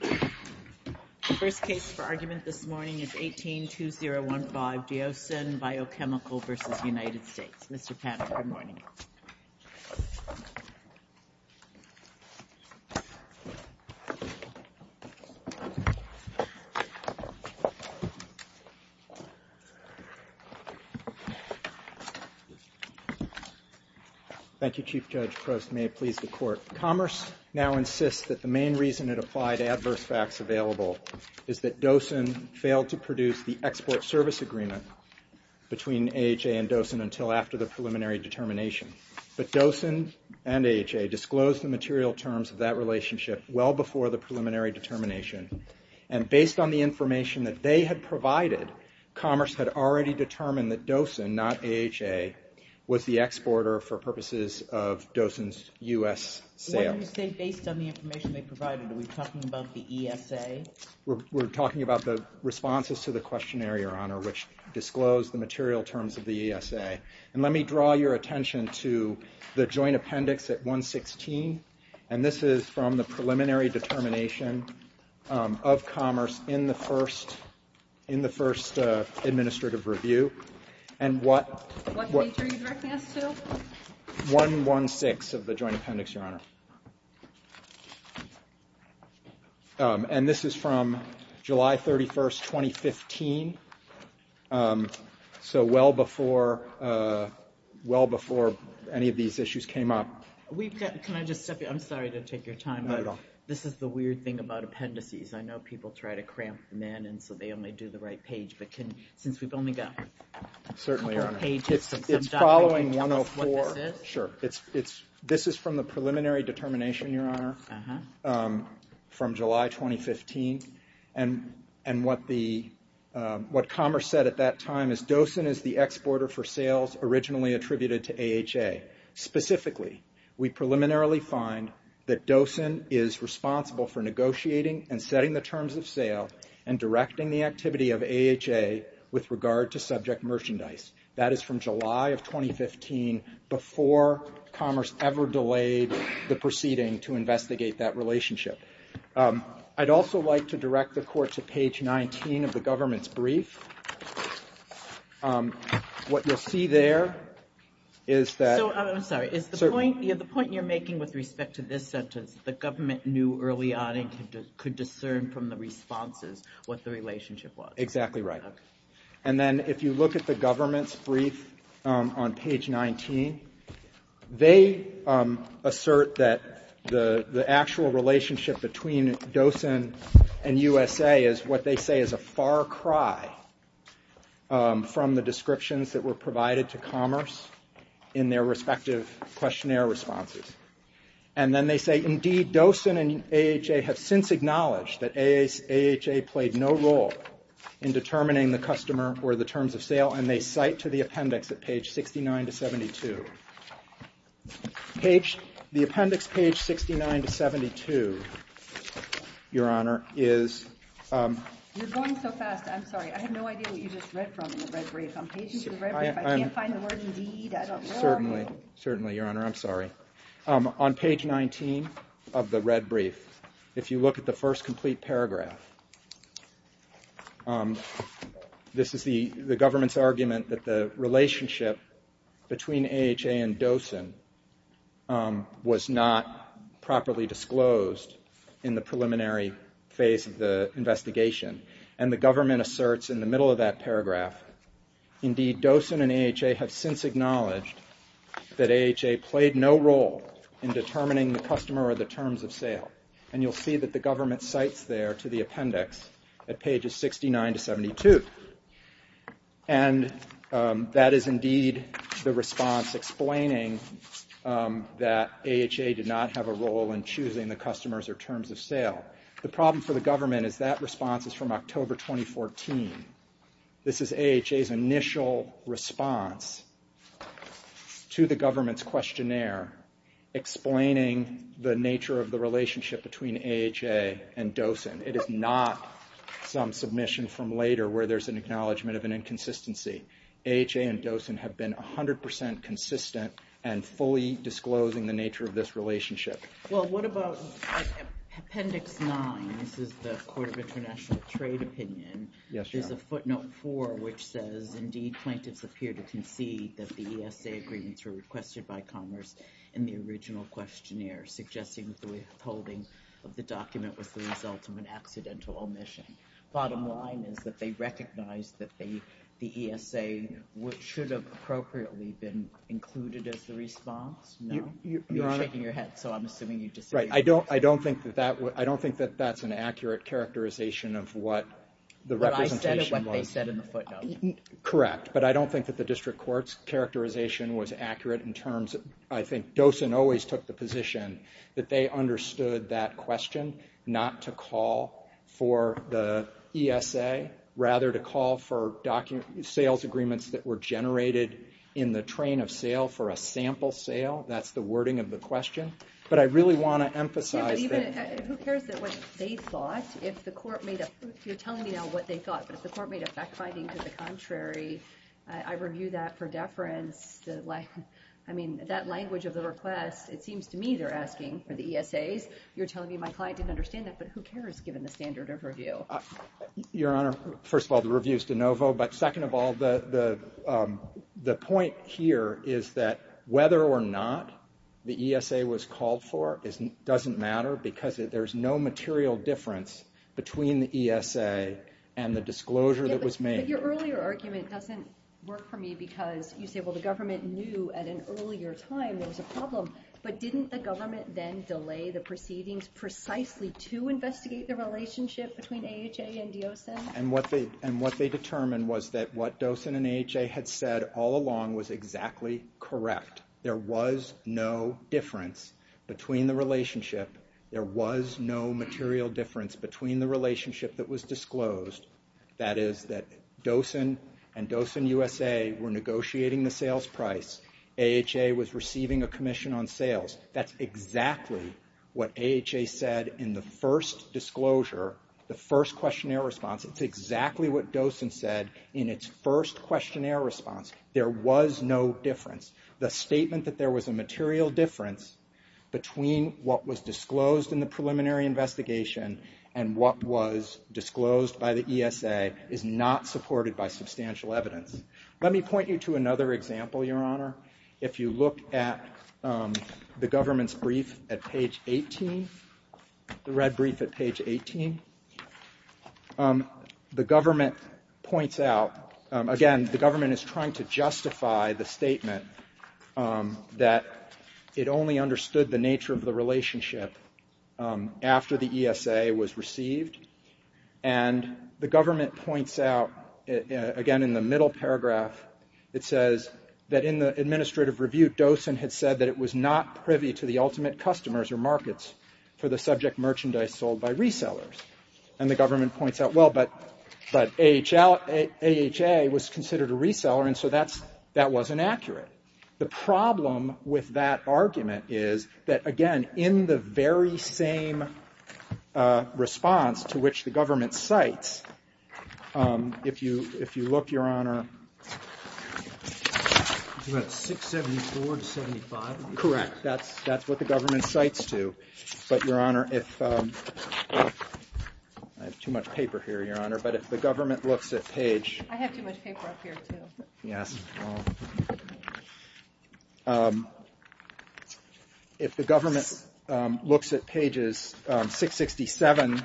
The first case for argument this morning is 18-2015, Deosan Biochemical v. United States. Mr. Pat, good morning. Thank you, Chief Judge Prost. May it please the Court, Commerce now insists that the main reason it applied adverse facts available is that Doosan failed to produce the export service agreement between AHA and Doosan until after the preliminary determination, but Doosan and AHA disclosed the material terms of that relationship well before the preliminary determination, and based on the information that they had provided, Commerce had already determined that Doosan, not AHA, was the exporter for purposes of Doosan's U.S. sales. What do you say based on the information they provided? Are we talking about the ESA? We're talking about the responses to the questionnaire, Your Honor, which disclosed the material terms of the ESA, and let me draw your attention to the joint appendix at 116, and this is from the preliminary determination of Commerce in the first administrative review, and what page are you directing us to? 116 of the joint appendix, Your Honor, and this is from July 31st, 2015, so well before any of these issues came up. Can I just step in? I'm sorry to take your time, but this is the weird thing about appendices. I know people try to cramp them in, and so they only do the right page, but since we've only got a couple of pages, can you tell us what this is? This is from the preliminary determination, Your Honor, from July 2015, and what Commerce said at that time is Doosan is the exporter for sales originally attributed to AHA. Specifically, we preliminarily find that Doosan is responsible for negotiating and setting the terms of sale and directing the activity of AHA with regard to subject merchandise. That is from July of 2015, before Commerce ever delayed the proceeding to investigate that relationship. I'd also like to direct the Court to page 19 of the government's brief. What you'll see there is that So, I'm sorry, is the point you're making with respect to this sentence, the government knew early on and could discern from the responses what the relationship was? Exactly right. And then, if you look at the government's brief on page 19, they assert that the actual relationship between Doosan and USA is what they say is a far cry from the descriptions that were provided to Commerce in their respective questionnaire responses. And then they say, indeed, Doosan and AHA have since acknowledged that AHA played no role in determining the customer or the terms of sale, and they cite to the appendix at page 69 to 72. The appendix, page 69 to 72, Your Honor, is You're going so fast, I'm sorry. I have no idea what you just read from in the red brief. I'm paging through the red brief. I can't find the word indeed. I don't know. Certainly. Certainly, Your Honor, I'm sorry. On page 19 of the red brief, if you look at the first complete paragraph, this is the government's argument that the relationship between AHA and Doosan was not properly disclosed in the preliminary phase of the investigation. And the government asserts in the middle of that paragraph, indeed, Doosan and AHA have since acknowledged that AHA played no role in determining the customer or the terms of sale. And you'll see that the government cites there to the appendix at pages 69 to 72. And that is indeed the response explaining that AHA did not have a role in choosing the customers or terms of sale. The problem for the government is that response is from October 2014. This is AHA's initial response to the government's questionnaire explaining the nature of the relationship between AHA and Doosan. It is not some submission from later where there's an acknowledgment of an inconsistency. AHA and Doosan have been 100% consistent and fully disclosing the nature of this relationship. Well, what about appendix 9? This is the Court of International Trade opinion. Yes, Your Honor. There's a footnote 4 which says, indeed, plaintiffs appear to concede that the ESA agreements were requested by commerce in the original questionnaire, suggesting that the withholding of the document was the result of an accidental omission. Bottom line is that they recognize that the ESA should have appropriately been included as the response? No? Your Honor? You're shaking your head, so I'm assuming you disagree. Right. I don't think that that's an accurate characterization of what the representation was. But I said what they said in the footnote. Correct. But I don't think that the district court's characterization was accurate in terms of, I think, Doosan always took the position that they understood that question not to call for the ESA, rather to call for sales agreements that were generated in the train of sale for a sample sale. That's the wording of the question. But I really want to emphasize that. Yeah, but even, who cares what they thought? If the court made a, you're telling me now what they thought. But if the court made a fact finding to the contrary, I review that for deference. I mean, that language of the request, it seems to me they're asking for the ESAs. You're telling me my client didn't understand that. But who cares, given the standard of review? Your Honor, first of all, the review's de novo. But second of all, the point here is that whether or not the ESA was called for doesn't matter because there's no material difference between the ESA and the disclosure that was made. Yeah, but your earlier argument doesn't work for me because you say, well, the government knew at an earlier time there was a problem. But didn't the government then delay the proceedings precisely to investigate the relationship between AHA and Doosan? And what they determined was that what Doosan and AHA had said all along was exactly correct. There was no difference between the relationship. There was no material difference between the relationship that was disclosed. That is that Doosan and Doosan USA were negotiating the sales price. AHA was receiving a commission on sales. That's exactly what AHA said in the first disclosure, the first questionnaire response. That's exactly what Doosan said in its first questionnaire response. There was no difference. The statement that there was a material difference between what was disclosed in the preliminary investigation and what was disclosed by the ESA is not supported by substantial evidence. Let me point you to another example, Your Honor. If you look at the government's brief at page 18, the red brief at page 18, the government points out, again, the government is trying to justify the statement that it only understood the nature of the relationship after the ESA was received. And the government points out, again, in the middle paragraph, it says that in the administrative review, Doosan had said that it was not privy to the And the government points out, well, but AHA was considered a reseller, and so that wasn't accurate. The problem with that argument is that, again, in the very same response to which the government cites, if you look, Your Honor, Correct. That's what the government cites to. But, Your Honor, I have too much paper here, Your Honor, but if the government looks at page I have too much paper up here, too. Yes. If the government looks at pages 666 and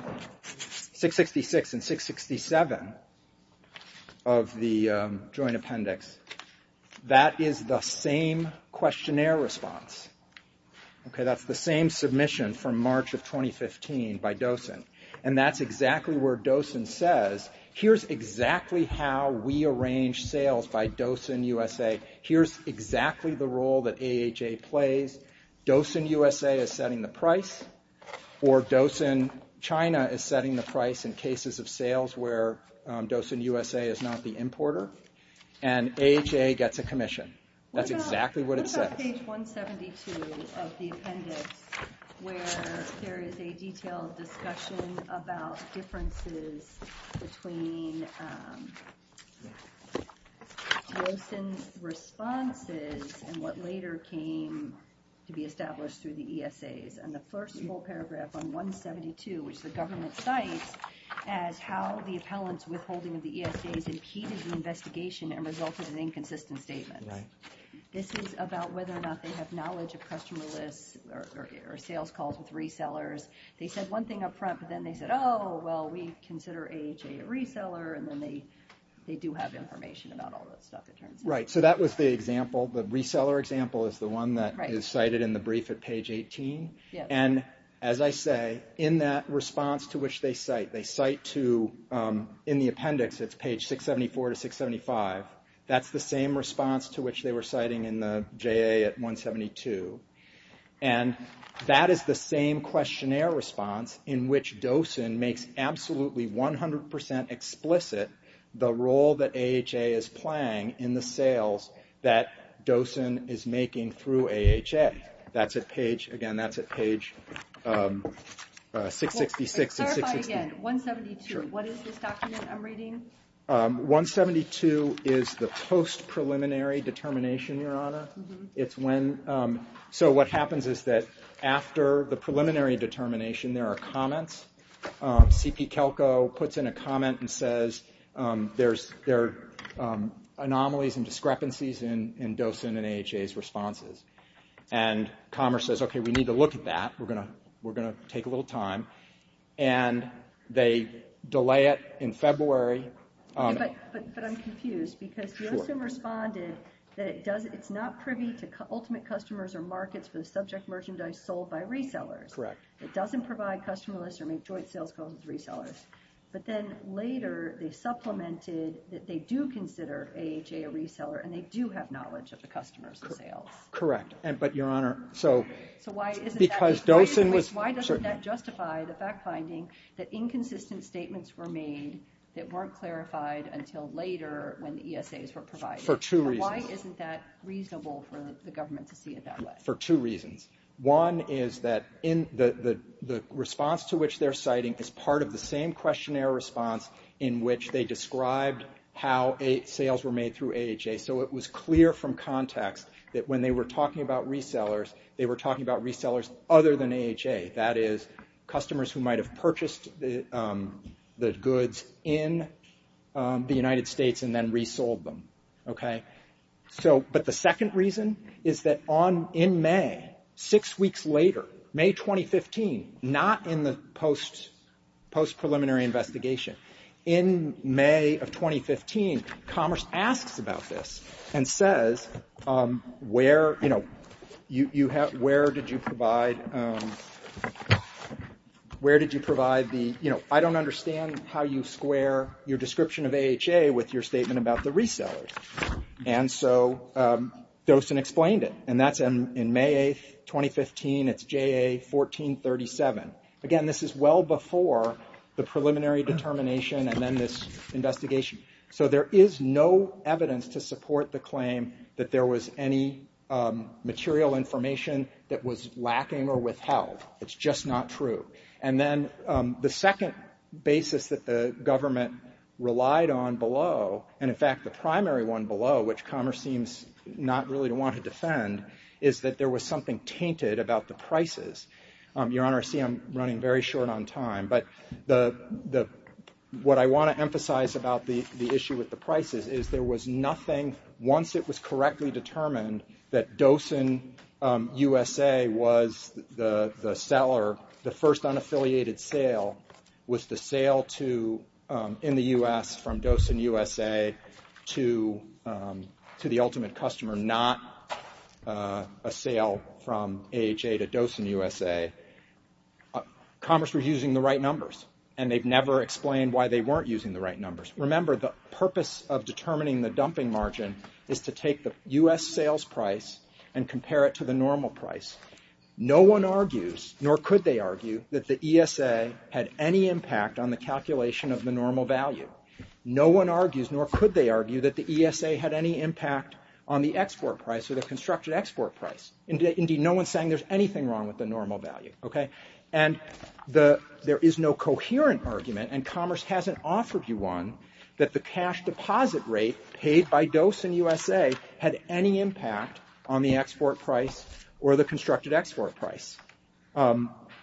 667 of the Joint Appendix, that is the same questionnaire response. Okay, that's the same submission from March of 2015 by Doosan. And that's exactly where Doosan says, here's exactly how we arrange sales by Doosan USA. Here's exactly the role that AHA plays. Doosan USA is setting the price, or Doosan China is setting the price in cases of sales where Doosan USA is not the importer. And AHA gets a commission. That's exactly what it says. Look at page 172 of the appendix where there is a detailed discussion about differences between Doosan's responses and what later came to be established through the ESAs. And the first full paragraph on 172, which the government cites, as how the appellant's withholding of the ESAs impeded the investigation and resulted in inconsistent statements. Right. This is about whether or not they have knowledge of customer lists or sales calls with resellers. They said one thing up front, but then they said, oh, well, we consider AHA a reseller. And then they do have information about all that stuff, it turns out. Right. So that was the example. The reseller example is the one that is cited in the brief at page 18. And as I say, in that response to which they cite, they cite to, in the appendix, it's page 674 to 675. That's the same response to which they were citing in the JA at 172. And that is the same questionnaire response in which Doosan makes absolutely 100% explicit the role that AHA is playing in the sales that Doosan is making through AHA. That's at page, again, that's at page 666. Clarify again, 172, what is this document I'm reading? 172 is the post-preliminary determination, Your Honor. It's when, so what happens is that after the preliminary determination, there are comments. C.P. Kelko puts in a comment and says, there are anomalies and discrepancies in Doosan and AHA's responses. And Commerce says, okay, we need to look at that. We're going to take a little time. And they delay it in February. But I'm confused because Doosan responded that it does, it's not privy to ultimate customers or markets for the subject merchandise sold by resellers. Correct. It doesn't provide customer lists or make joint sales calls with resellers. But then later they supplemented that they do consider AHA a reseller and they do have knowledge of the customers' sales. Correct. But, Your Honor, so because Doosan was... that inconsistent statements were made that weren't clarified until later when the ESAs were provided. For two reasons. Why isn't that reasonable for the government to see it that way? For two reasons. One is that the response to which they're citing is part of the same questionnaire response in which they described how sales were made through AHA. So it was clear from context that when they were talking about resellers, they were talking about resellers other than AHA. That is, customers who might have purchased the goods in the United States and then resold them. Okay? But the second reason is that in May, six weeks later, May 2015, not in the post-preliminary investigation, in May of 2015, Commerce asks about this and says, where, you know, where did you provide, where did you provide the, you know, I don't understand how you square your description of AHA with your statement about the resellers. And so Doosan explained it. And that's in May 8, 2015. It's JA 1437. Again, this is well before the preliminary determination and then this investigation. So there is no evidence to support the claim that there was any material information that was lacking or withheld. It's just not true. And then the second basis that the government relied on below, and in fact the primary one below, which Commerce seems not really to want to defend, is that there was something tainted about the prices. Your Honor, I see I'm running very short on time. But what I want to emphasize about the issue with the prices is there was nothing, once it was correctly determined, that Doosan USA was the seller, the first unaffiliated sale, was the sale to, in the U.S., from Doosan USA to the ultimate customer, not a sale from AHA to Doosan USA. Commerce was using the right numbers, and they've never explained why they weren't using the right numbers. Remember, the purpose of determining the dumping margin is to take the U.S. sales price and compare it to the normal price. No one argues, nor could they argue, that the ESA had any impact on the calculation of the normal value. No one argues, nor could they argue, that the ESA had any impact on the export price or the constructed export price. Indeed, no one's saying there's anything wrong with the normal value, okay? And there is no coherent argument, and commerce hasn't offered you one, that the cash deposit rate paid by Doosan USA had any impact on the export price or the constructed export price.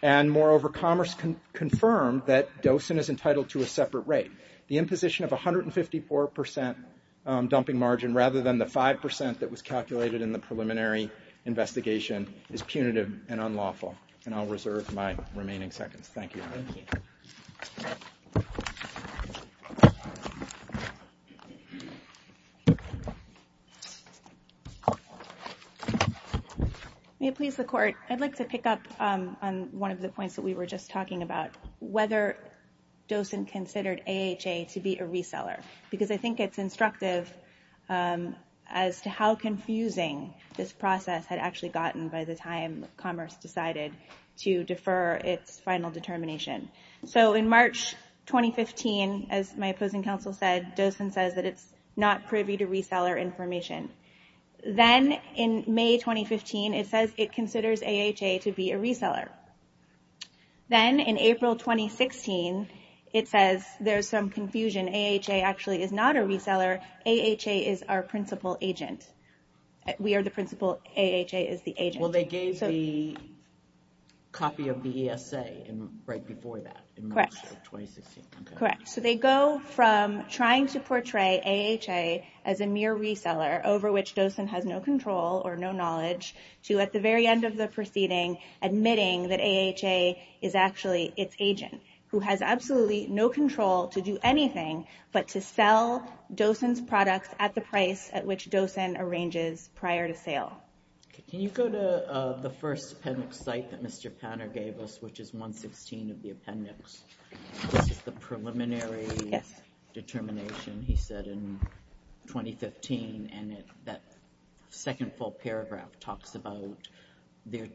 And moreover, commerce confirmed that Doosan is entitled to a separate rate, the imposition of 154% dumping margin rather than the 5% that was calculated in the preliminary investigation, is punitive and unlawful. And I'll reserve my remaining seconds. Thank you. May it please the Court. I'd like to pick up on one of the points that we were just talking about, whether Doosan considered AHA to be a reseller, because I think it's instructive as to how confusing this process had actually gotten by the time commerce decided to defer its final determination. So in March 2015, as my opposing counsel said, Doosan says that it's not privy to reseller information. Then in May 2015, it says it considers AHA to be a reseller. Then in April 2016, it says there's some confusion, AHA actually is not a reseller, AHA is our principal agent. We are the principal, AHA is the agent. Well, they gave the copy of the ESA right before that. Correct. So they go from trying to portray AHA as a mere reseller, over which Doosan has no control or no knowledge, to at the very end of the proceeding, admitting that AHA is actually its agent, who has absolutely no control to do anything but to sell Doosan's products at the price at which Doosan arranges prior to sale. Can you go to the first appendix site that Mr. Panner gave us, which is 116 of the appendix. This is the preliminary determination he said in 2015 and that second full paragraph talks about their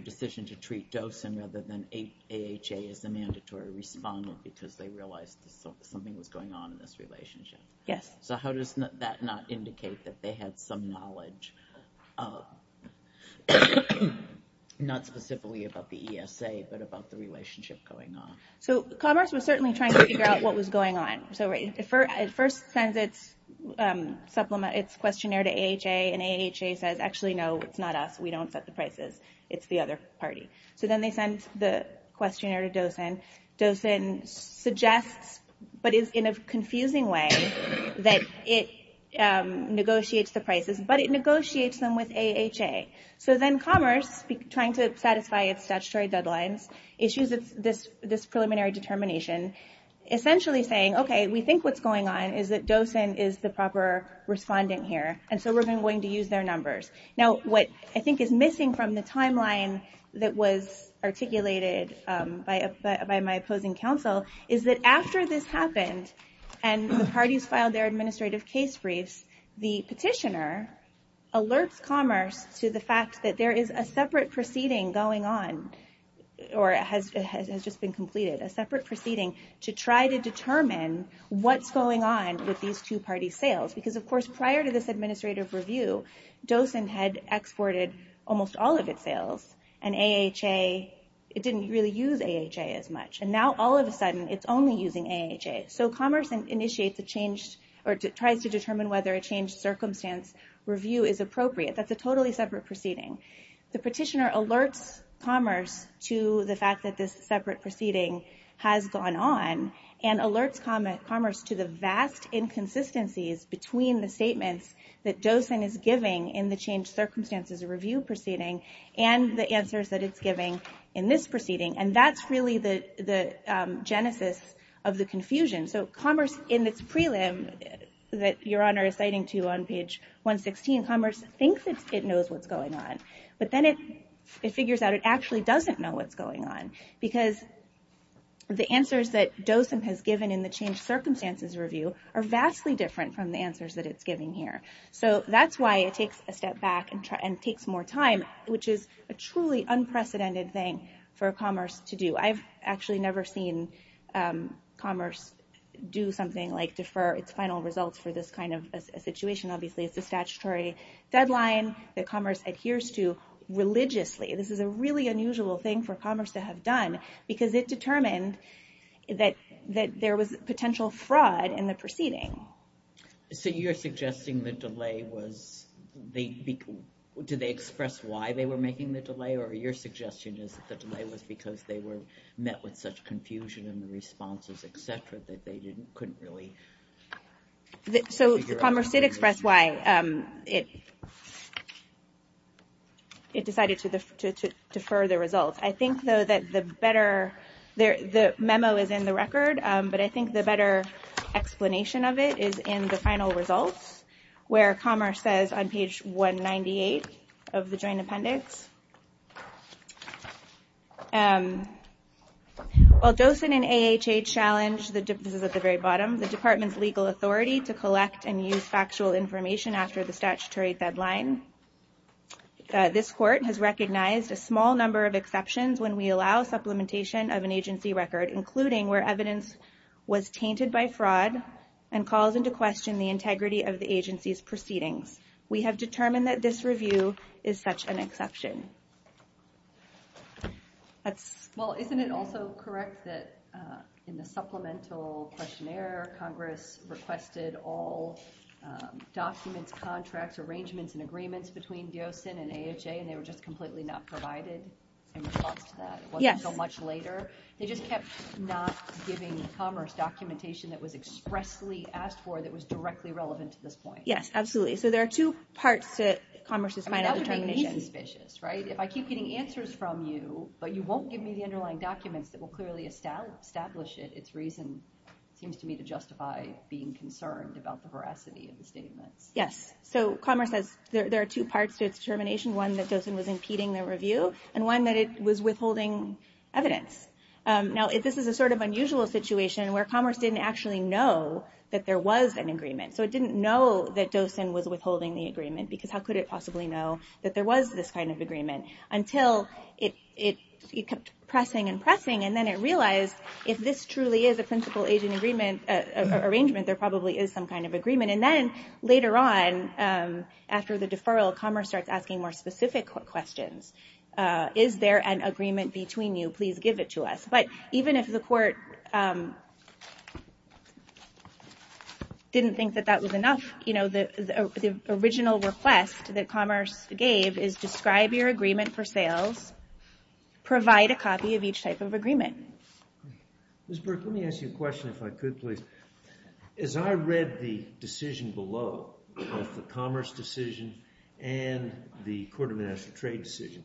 decision to treat Doosan rather than AHA as a mandatory respondent because they realized something was going on in this relationship. So how does that not indicate that they had some knowledge not specifically about the ESA but about the relationship going on? Commerce was certainly trying to figure out what was going on. It first sends its questionnaire to AHA and AHA says, actually no, it's not us. We don't set the prices. It's the other party. So then they send the questionnaire to Doosan. Doosan suggests but is in a confusing way that it negotiates the prices but it negotiates them with AHA. So then Commerce, trying to satisfy its statutory deadlines, issues this preliminary determination essentially saying, okay, we think what's going on is that Doosan is the proper respondent here and so we're going to use their numbers. Now what I think is missing from the article that was articulated by my opposing counsel is that after this happened and the parties filed their administrative case briefs, the petitioner alerts Commerce to the fact that there is a separate proceeding going on or has just been completed a separate proceeding to try to determine what's going on with these two party sales. Because of course prior to this administrative review Doosan had exported almost all of its sales and AHA, it didn't really use AHA as much. And now all of a sudden it's only using AHA. So Commerce initiates a change or tries to determine whether a changed circumstance review is appropriate. That's a totally separate proceeding. The petitioner alerts Commerce to the fact that this separate proceeding has gone on and alerts Commerce to the vast inconsistencies between the statements that Doosan is giving in the changed circumstances review proceeding and the answers that it's giving in this proceeding. And that's really the genesis of the confusion. So Commerce in its prelim that Your Honor is citing to on page 116, Commerce thinks it knows what's going on. But then it figures out it actually doesn't know what's going on. Because the answers that Doosan has given in the changed circumstances review are vastly different from the answers that it's giving here. So that's why it takes a step back and takes more time which is a truly unprecedented thing for Commerce to do. I've actually never seen Commerce do something like defer its final results for this kind of a situation. Obviously it's a statutory deadline that Commerce adheres to religiously. This is a really unusual thing for Commerce to have done because it determined that there was potential fraud in the proceeding. So you're suggesting the delay was did they express why they were making the delay? Or your suggestion is that the delay was because they were met with such confusion in the responses etc. that they couldn't really figure out? So Commerce did express why it decided to defer the results. I think though that the better memo is in the record, but I think the better explanation of it is in the final results where Commerce says on page 198 of the Joint Appendix While Dosen and AHH challenge, this is at the very bottom, the department's legal authority to collect and use factual information after the statutory deadline. This court has recognized a small number of exceptions when we allow supplementation of an agency record including where evidence was tainted by fraud and calls into question the integrity of the agency's proceedings. We have determined that this review is such an exception. Well, isn't it also correct that in the supplemental questionnaire Congress requested all documents, contracts, arrangements, and agreements between Dosen and AHH and they were just completely not provided in response to that? It wasn't so much later. They just kept not giving Commerce documentation that was expressly asked for that was directly relevant to this point. Yes, absolutely. So there are two parts to Commerce's final determination. That would make me suspicious, right? If I keep getting answers from you, but you won't give me the underlying documents that will clearly establish it, its reason seems to me to justify being concerned about the veracity of the statements. So Commerce says there are two parts to its determination. One that Dosen was impeding the review and one that it was withholding evidence. Now, this is a sort of unusual situation where Commerce didn't actually know that there was an agreement. So it didn't know that Dosen was withholding the agreement because how could it possibly know that there was this kind of agreement until it kept pressing and pressing and then it realized if this truly is a principal agent arrangement, there probably is some kind of agreement. And then later on after the deferral, Commerce starts asking more specific questions. Is there an agreement between you? Please give it to us. But even if the court didn't think that that was enough, you know, the original request that Commerce gave is describe your agreement for sales, provide a copy of each type of agreement. Ms. Burke, let me ask you a question if I could, please. As I read the decision below, both the agreement and the Court of National Trade decision,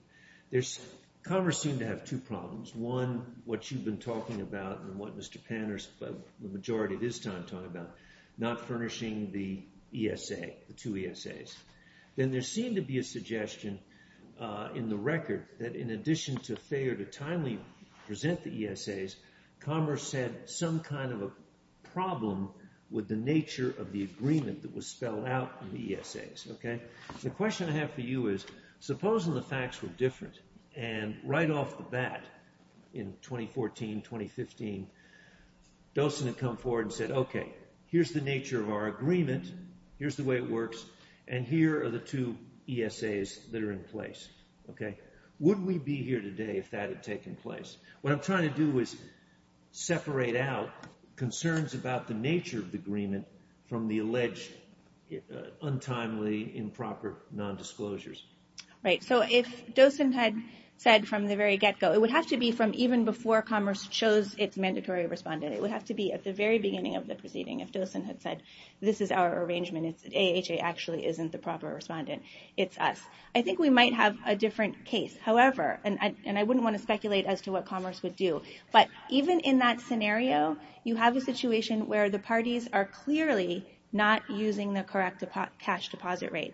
Commerce seemed to have two problems. One, what you've been talking about and what Mr. Panner, the majority of his time, talking about, not furnishing the ESA, the two ESAs. Then there seemed to be a suggestion in the record that in addition to failure to timely present the ESAs, Commerce had some kind of a problem with the nature of the agreement that was spelled out in the ESAs. The question I have for you is, supposing the facts were different and right off the bat in 2014, 2015, Dosen had come forward and said, okay, here's the nature of our agreement, here's the way it works, and here are the two ESAs that are in place. Would we be here today if that had taken place? What I'm trying to do is separate out concerns about the nature of the agreement from the alleged untimely improper nondisclosures. Right, so if Dosen had said from the very get-go, it would have to be from even before Commerce chose its mandatory respondent, it would have to be at the very beginning of the proceeding if Dosen had said, this is our arrangement, AHA actually isn't the proper respondent, it's us. I think we might have a different case. However, and I wouldn't want to speculate as to what Commerce would do, but even in that scenario, you have a situation where the parties are clearly not using the correct cash deposit rate.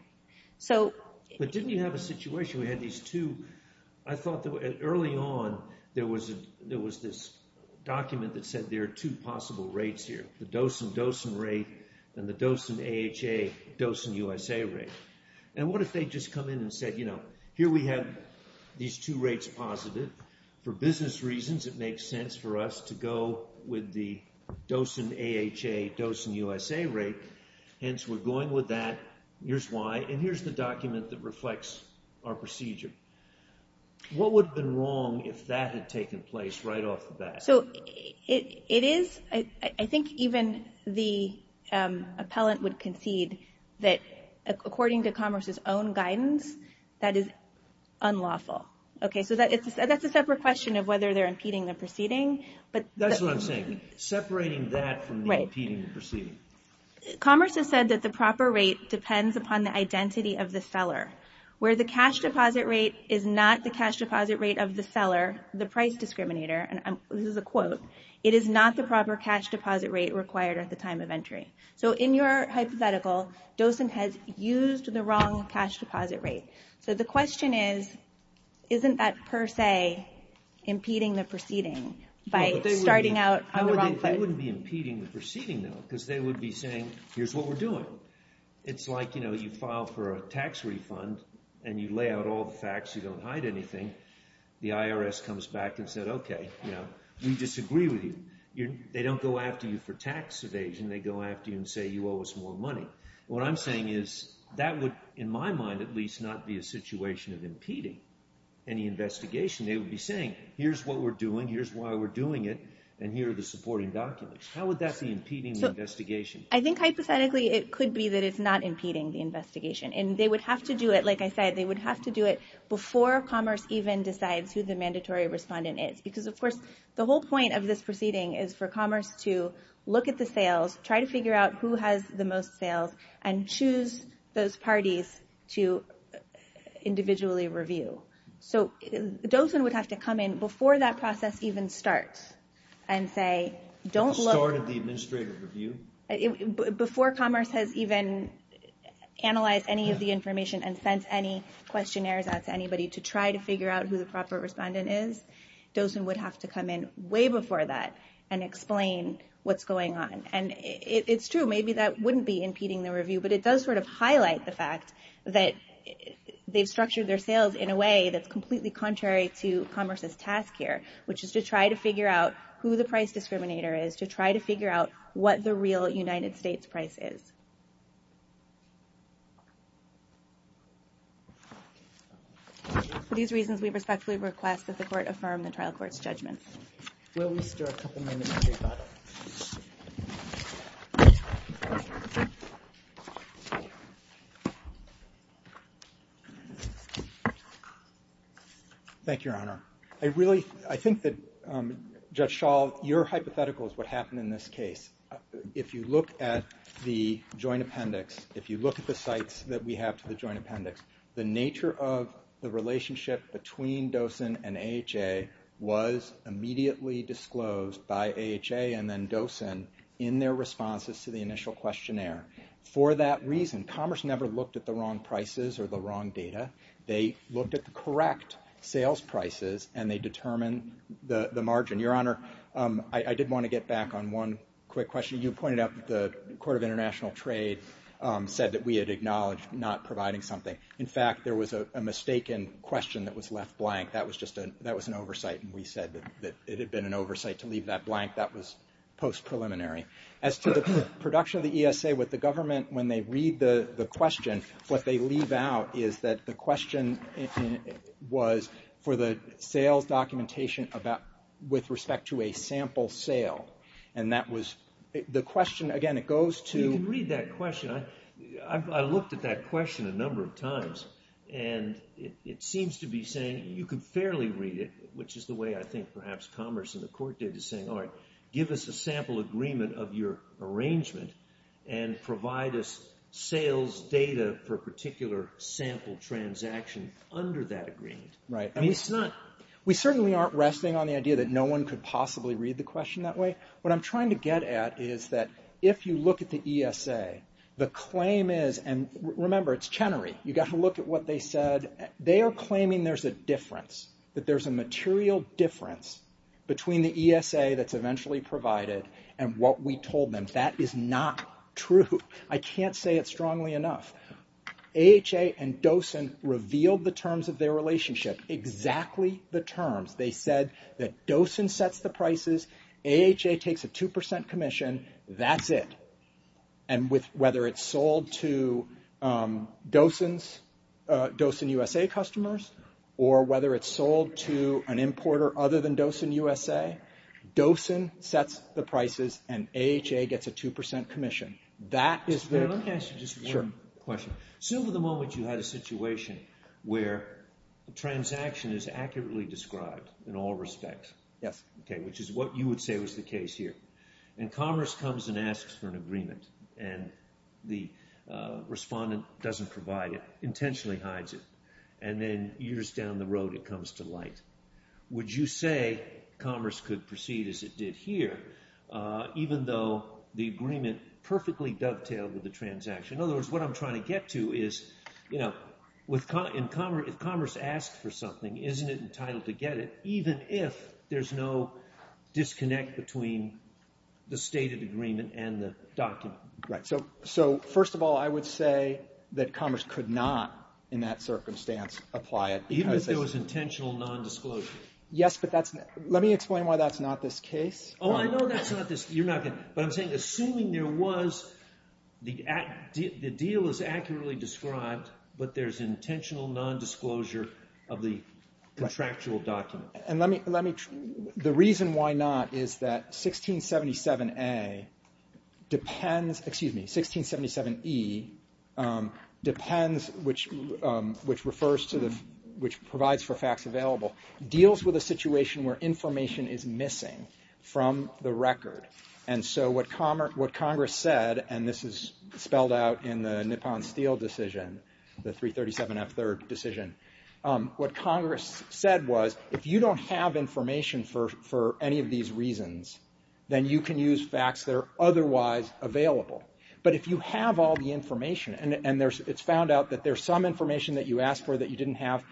But didn't you have a situation where you had these two, I thought early on there was this document that said there are two possible rates here, the Dosen-Dosen rate and the Dosen-AHA-Dosen-USA rate. And what if they just come in and said, you know, here we have these two rates positive, for business reasons it makes sense for us to go with the Dosen-AHA-Dosen-USA rate, hence we're going with that, here's why, and here's the document that reflects our procedure. What would have been wrong if that had taken place right off the bat? I think even the appellant would concede that according to Commerce's own guidance, that is unlawful. So that's a separate question of whether they're impeding the proceeding. That's what I'm saying, separating that from impeding the proceeding. Commerce has said that the proper rate depends upon the identity of the seller. Where the cash deposit rate is not the cash deposit rate of the seller, the price discriminator, and this is a quote, it is not the proper cash deposit rate required at the time of entry. So in your hypothetical, Dosen has used the wrong cash deposit rate. So the question is, isn't that per se impeding the proceeding by starting out on the wrong foot? They wouldn't be impeding the proceeding though, because they would be saying, here's what we're doing. It's like, you know, you file for a tax refund, and you lay out all the facts, you don't hide anything. The IRS comes back and said okay, you know, we disagree with you. They don't go after you for tax evasion, they go after you and say you owe us more money. What I'm saying is that would, in my mind at least, not be a situation of impeding any investigation. They would be saying here's what we're doing, here's why we're doing it, and here are the supporting documents. How would that be impeding the investigation? I think hypothetically it could be that it's not impeding the investigation, and they would have to do it, like I said, they would have to do it before Commerce even decides who the mandatory respondent is. Because of course, the whole point of this proceeding is for Commerce to look at the sales, try to figure out who has the most sales, and choose those parties to individually review. So, Dosen would have to come in before that process even starts and say, don't look... Before Commerce has even analyzed any of the information and sent any questionnaires out to anybody to try to figure out who the proper respondent is, Dosen would have to come in way before that and explain what's going on. And it's true, maybe that highlight the fact that they've structured their sales in a way that's completely contrary to Commerce's task here, which is to try to figure out who the price discriminator is, to try to figure out what the real United States price is. For these reasons, we respectfully request that the Court affirm the trial court's judgment. Thank you, Your Honor. I really, I think that Judge Schall, your hypothetical is what happened in this case. If you look at the Joint Appendix, if you look at the sites that we have to the Joint Appendix, the nature of the relationship between Dosen and AHA was immediately disclosed by AHA and then Dosen in their responses to the initial questionnaire. For that reason, Commerce never looked at the wrong prices or the wrong data. They looked at the correct sales prices, and they determined the margin. Your Honor, I did want to get back on one quick question. You pointed out that the Court of International Trade said that we had acknowledged not providing something. In fact, there was a mistaken question that was left blank. That was an oversight, and we said that it had been an oversight to leave that blank. That was post-preliminary. As to the production of the ESA with the government, when they read the question, what they leave out is that the question was for the sales documentation with respect to a sample sale. The question, again, it goes to... You can read that question. I looked at that question a number of times, and it seems to be saying you can fairly read it, which is the way I think perhaps Commerce and the Court did, is saying, all right, give us a sample agreement of your arrangement and provide us sales data for a particular sample transaction under that agreement. Right. I mean, it's not... We certainly aren't resting on the idea that no one could possibly read the question that way. What I'm trying to get at is that if you look at the ESA, the claim is... And remember, it's Chenery. You've got to look at what they said. They are claiming there's a difference, that there's a material difference between the ESA that's conventionally provided and what we told them. That is not true. I can't say it strongly enough. AHA and DOCENT revealed the terms of their relationship, exactly the terms. They said that DOCENT sets the prices, AHA takes a 2% commission, that's it. And whether it's sold to DOCENT USA customers, or whether it's sold to an importer other than DOCENT USA, DOCENT sets the prices and AHA gets a 2% commission. That is the... Let me ask you just one question. So over the moment you had a situation where the transaction is accurately described in all respects, which is what you would say was the case here, and Commerce comes and asks for an agreement, and the respondent doesn't provide it, intentionally hides it, and then years down the road it comes to light. Would you say Commerce could proceed as it did here, even though the agreement perfectly dovetailed with the transaction? In other words, what I'm trying to get to is if Commerce asks for something, isn't it entitled to get it, even if there's no disconnect between the stated agreement and the document? Right. So first of all, I would say that Commerce could not, in that circumstance, apply it. Even if there was intentional non-disclosure? Yes, but that's... Let me explain why that's not this case. Oh, I know that's not this... But I'm saying, assuming there was the deal is accurately described, but there's intentional non-disclosure of the contractual document. And let me... The reason why not is that 1677A depends... Excuse me. 1677E depends... which refers to the... which provides for facts available, deals with a situation where information is missing from the record. And so what Congress said, and this is spelled out in the Nippon-Steele decision, the 337F3rd decision, what Congress said was, if you don't have information for any of these reasons, then you can use facts that are otherwise available. But if you have all the information and it's found out that there's some information that you asked for that you didn't have,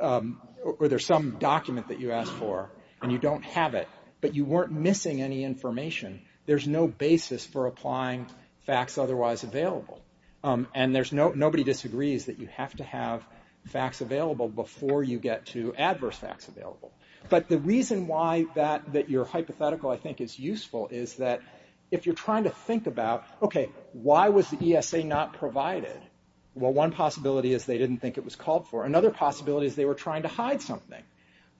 or there's some document that you asked for, and you don't have it, but you weren't missing any information, there's no basis for applying facts otherwise available. And nobody disagrees that you have to have facts available before you get to adverse facts available. But the reason why that you're hypothetical I think is useful is that if you're trying to think about, okay, why was the ESA not provided? Well, one possibility is they didn't think it was called for. Another possibility is they were trying to hide something.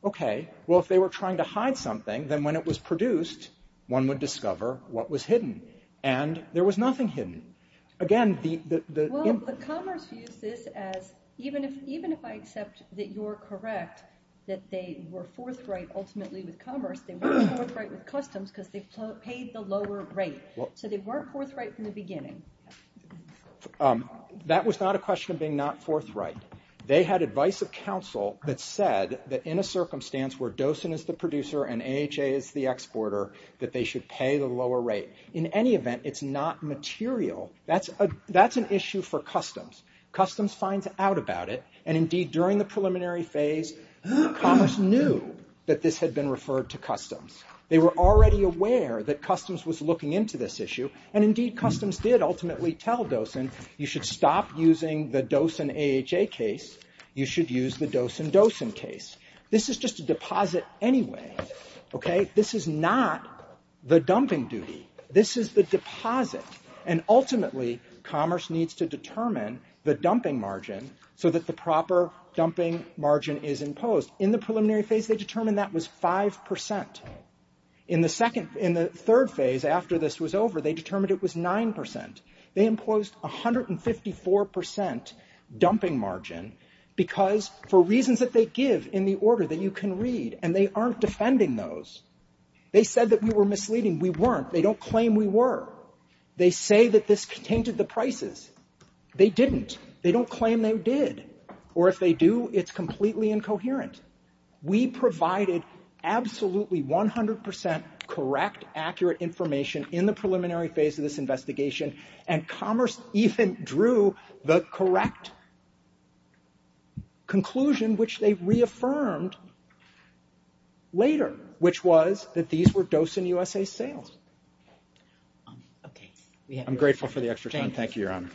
Okay. Well, if they were trying to hide something, then when it was produced, one would discover what was hidden. And there was nothing hidden. Again, the... Well, the Commerce used this as, even if I accept that you're correct, that they were forthright, ultimately with Commerce, they weren't forthright with Customs because they paid the lower rate. So they weren't forthright from the beginning. That was not a question of being not forthright. They had advice of counsel that said that in a circumstance where Dosen is the producer and AHA is the exporter, that they should pay the lower rate. In any event, it's not material. That's an issue for Customs. Customs finds out about it, and indeed during the preliminary phase, Commerce knew that this had been referred to Customs. They were already aware that Customs was looking into this issue, and indeed Customs did ultimately tell Dosen, you should stop using the Dosen-AHA case. You should use the Dosen-Dosen case. This is just a deposit anyway. Okay? This is not the dumping duty. This is the deposit. And ultimately, Commerce needs to determine the dumping margin so that the proper dumping margin is imposed. In the preliminary phase, they determined that was 5%. In the second — in the third phase after this was over, they determined it was 9%. They imposed 154% dumping margin because for reasons that they give in the order that you can read, and they aren't defending those, they said that we were misleading. We weren't. They don't claim we were. They say that this tainted the prices. They didn't. They don't claim they did. Or if they do, it's completely incoherent. We provided absolutely 100% correct, accurate information in the preliminary phase of this investigation and Commerce even drew the correct conclusion which they reaffirmed later, which was that these were Dosen-USA sales. I'm grateful for the extra time. Thank you, Your Honor.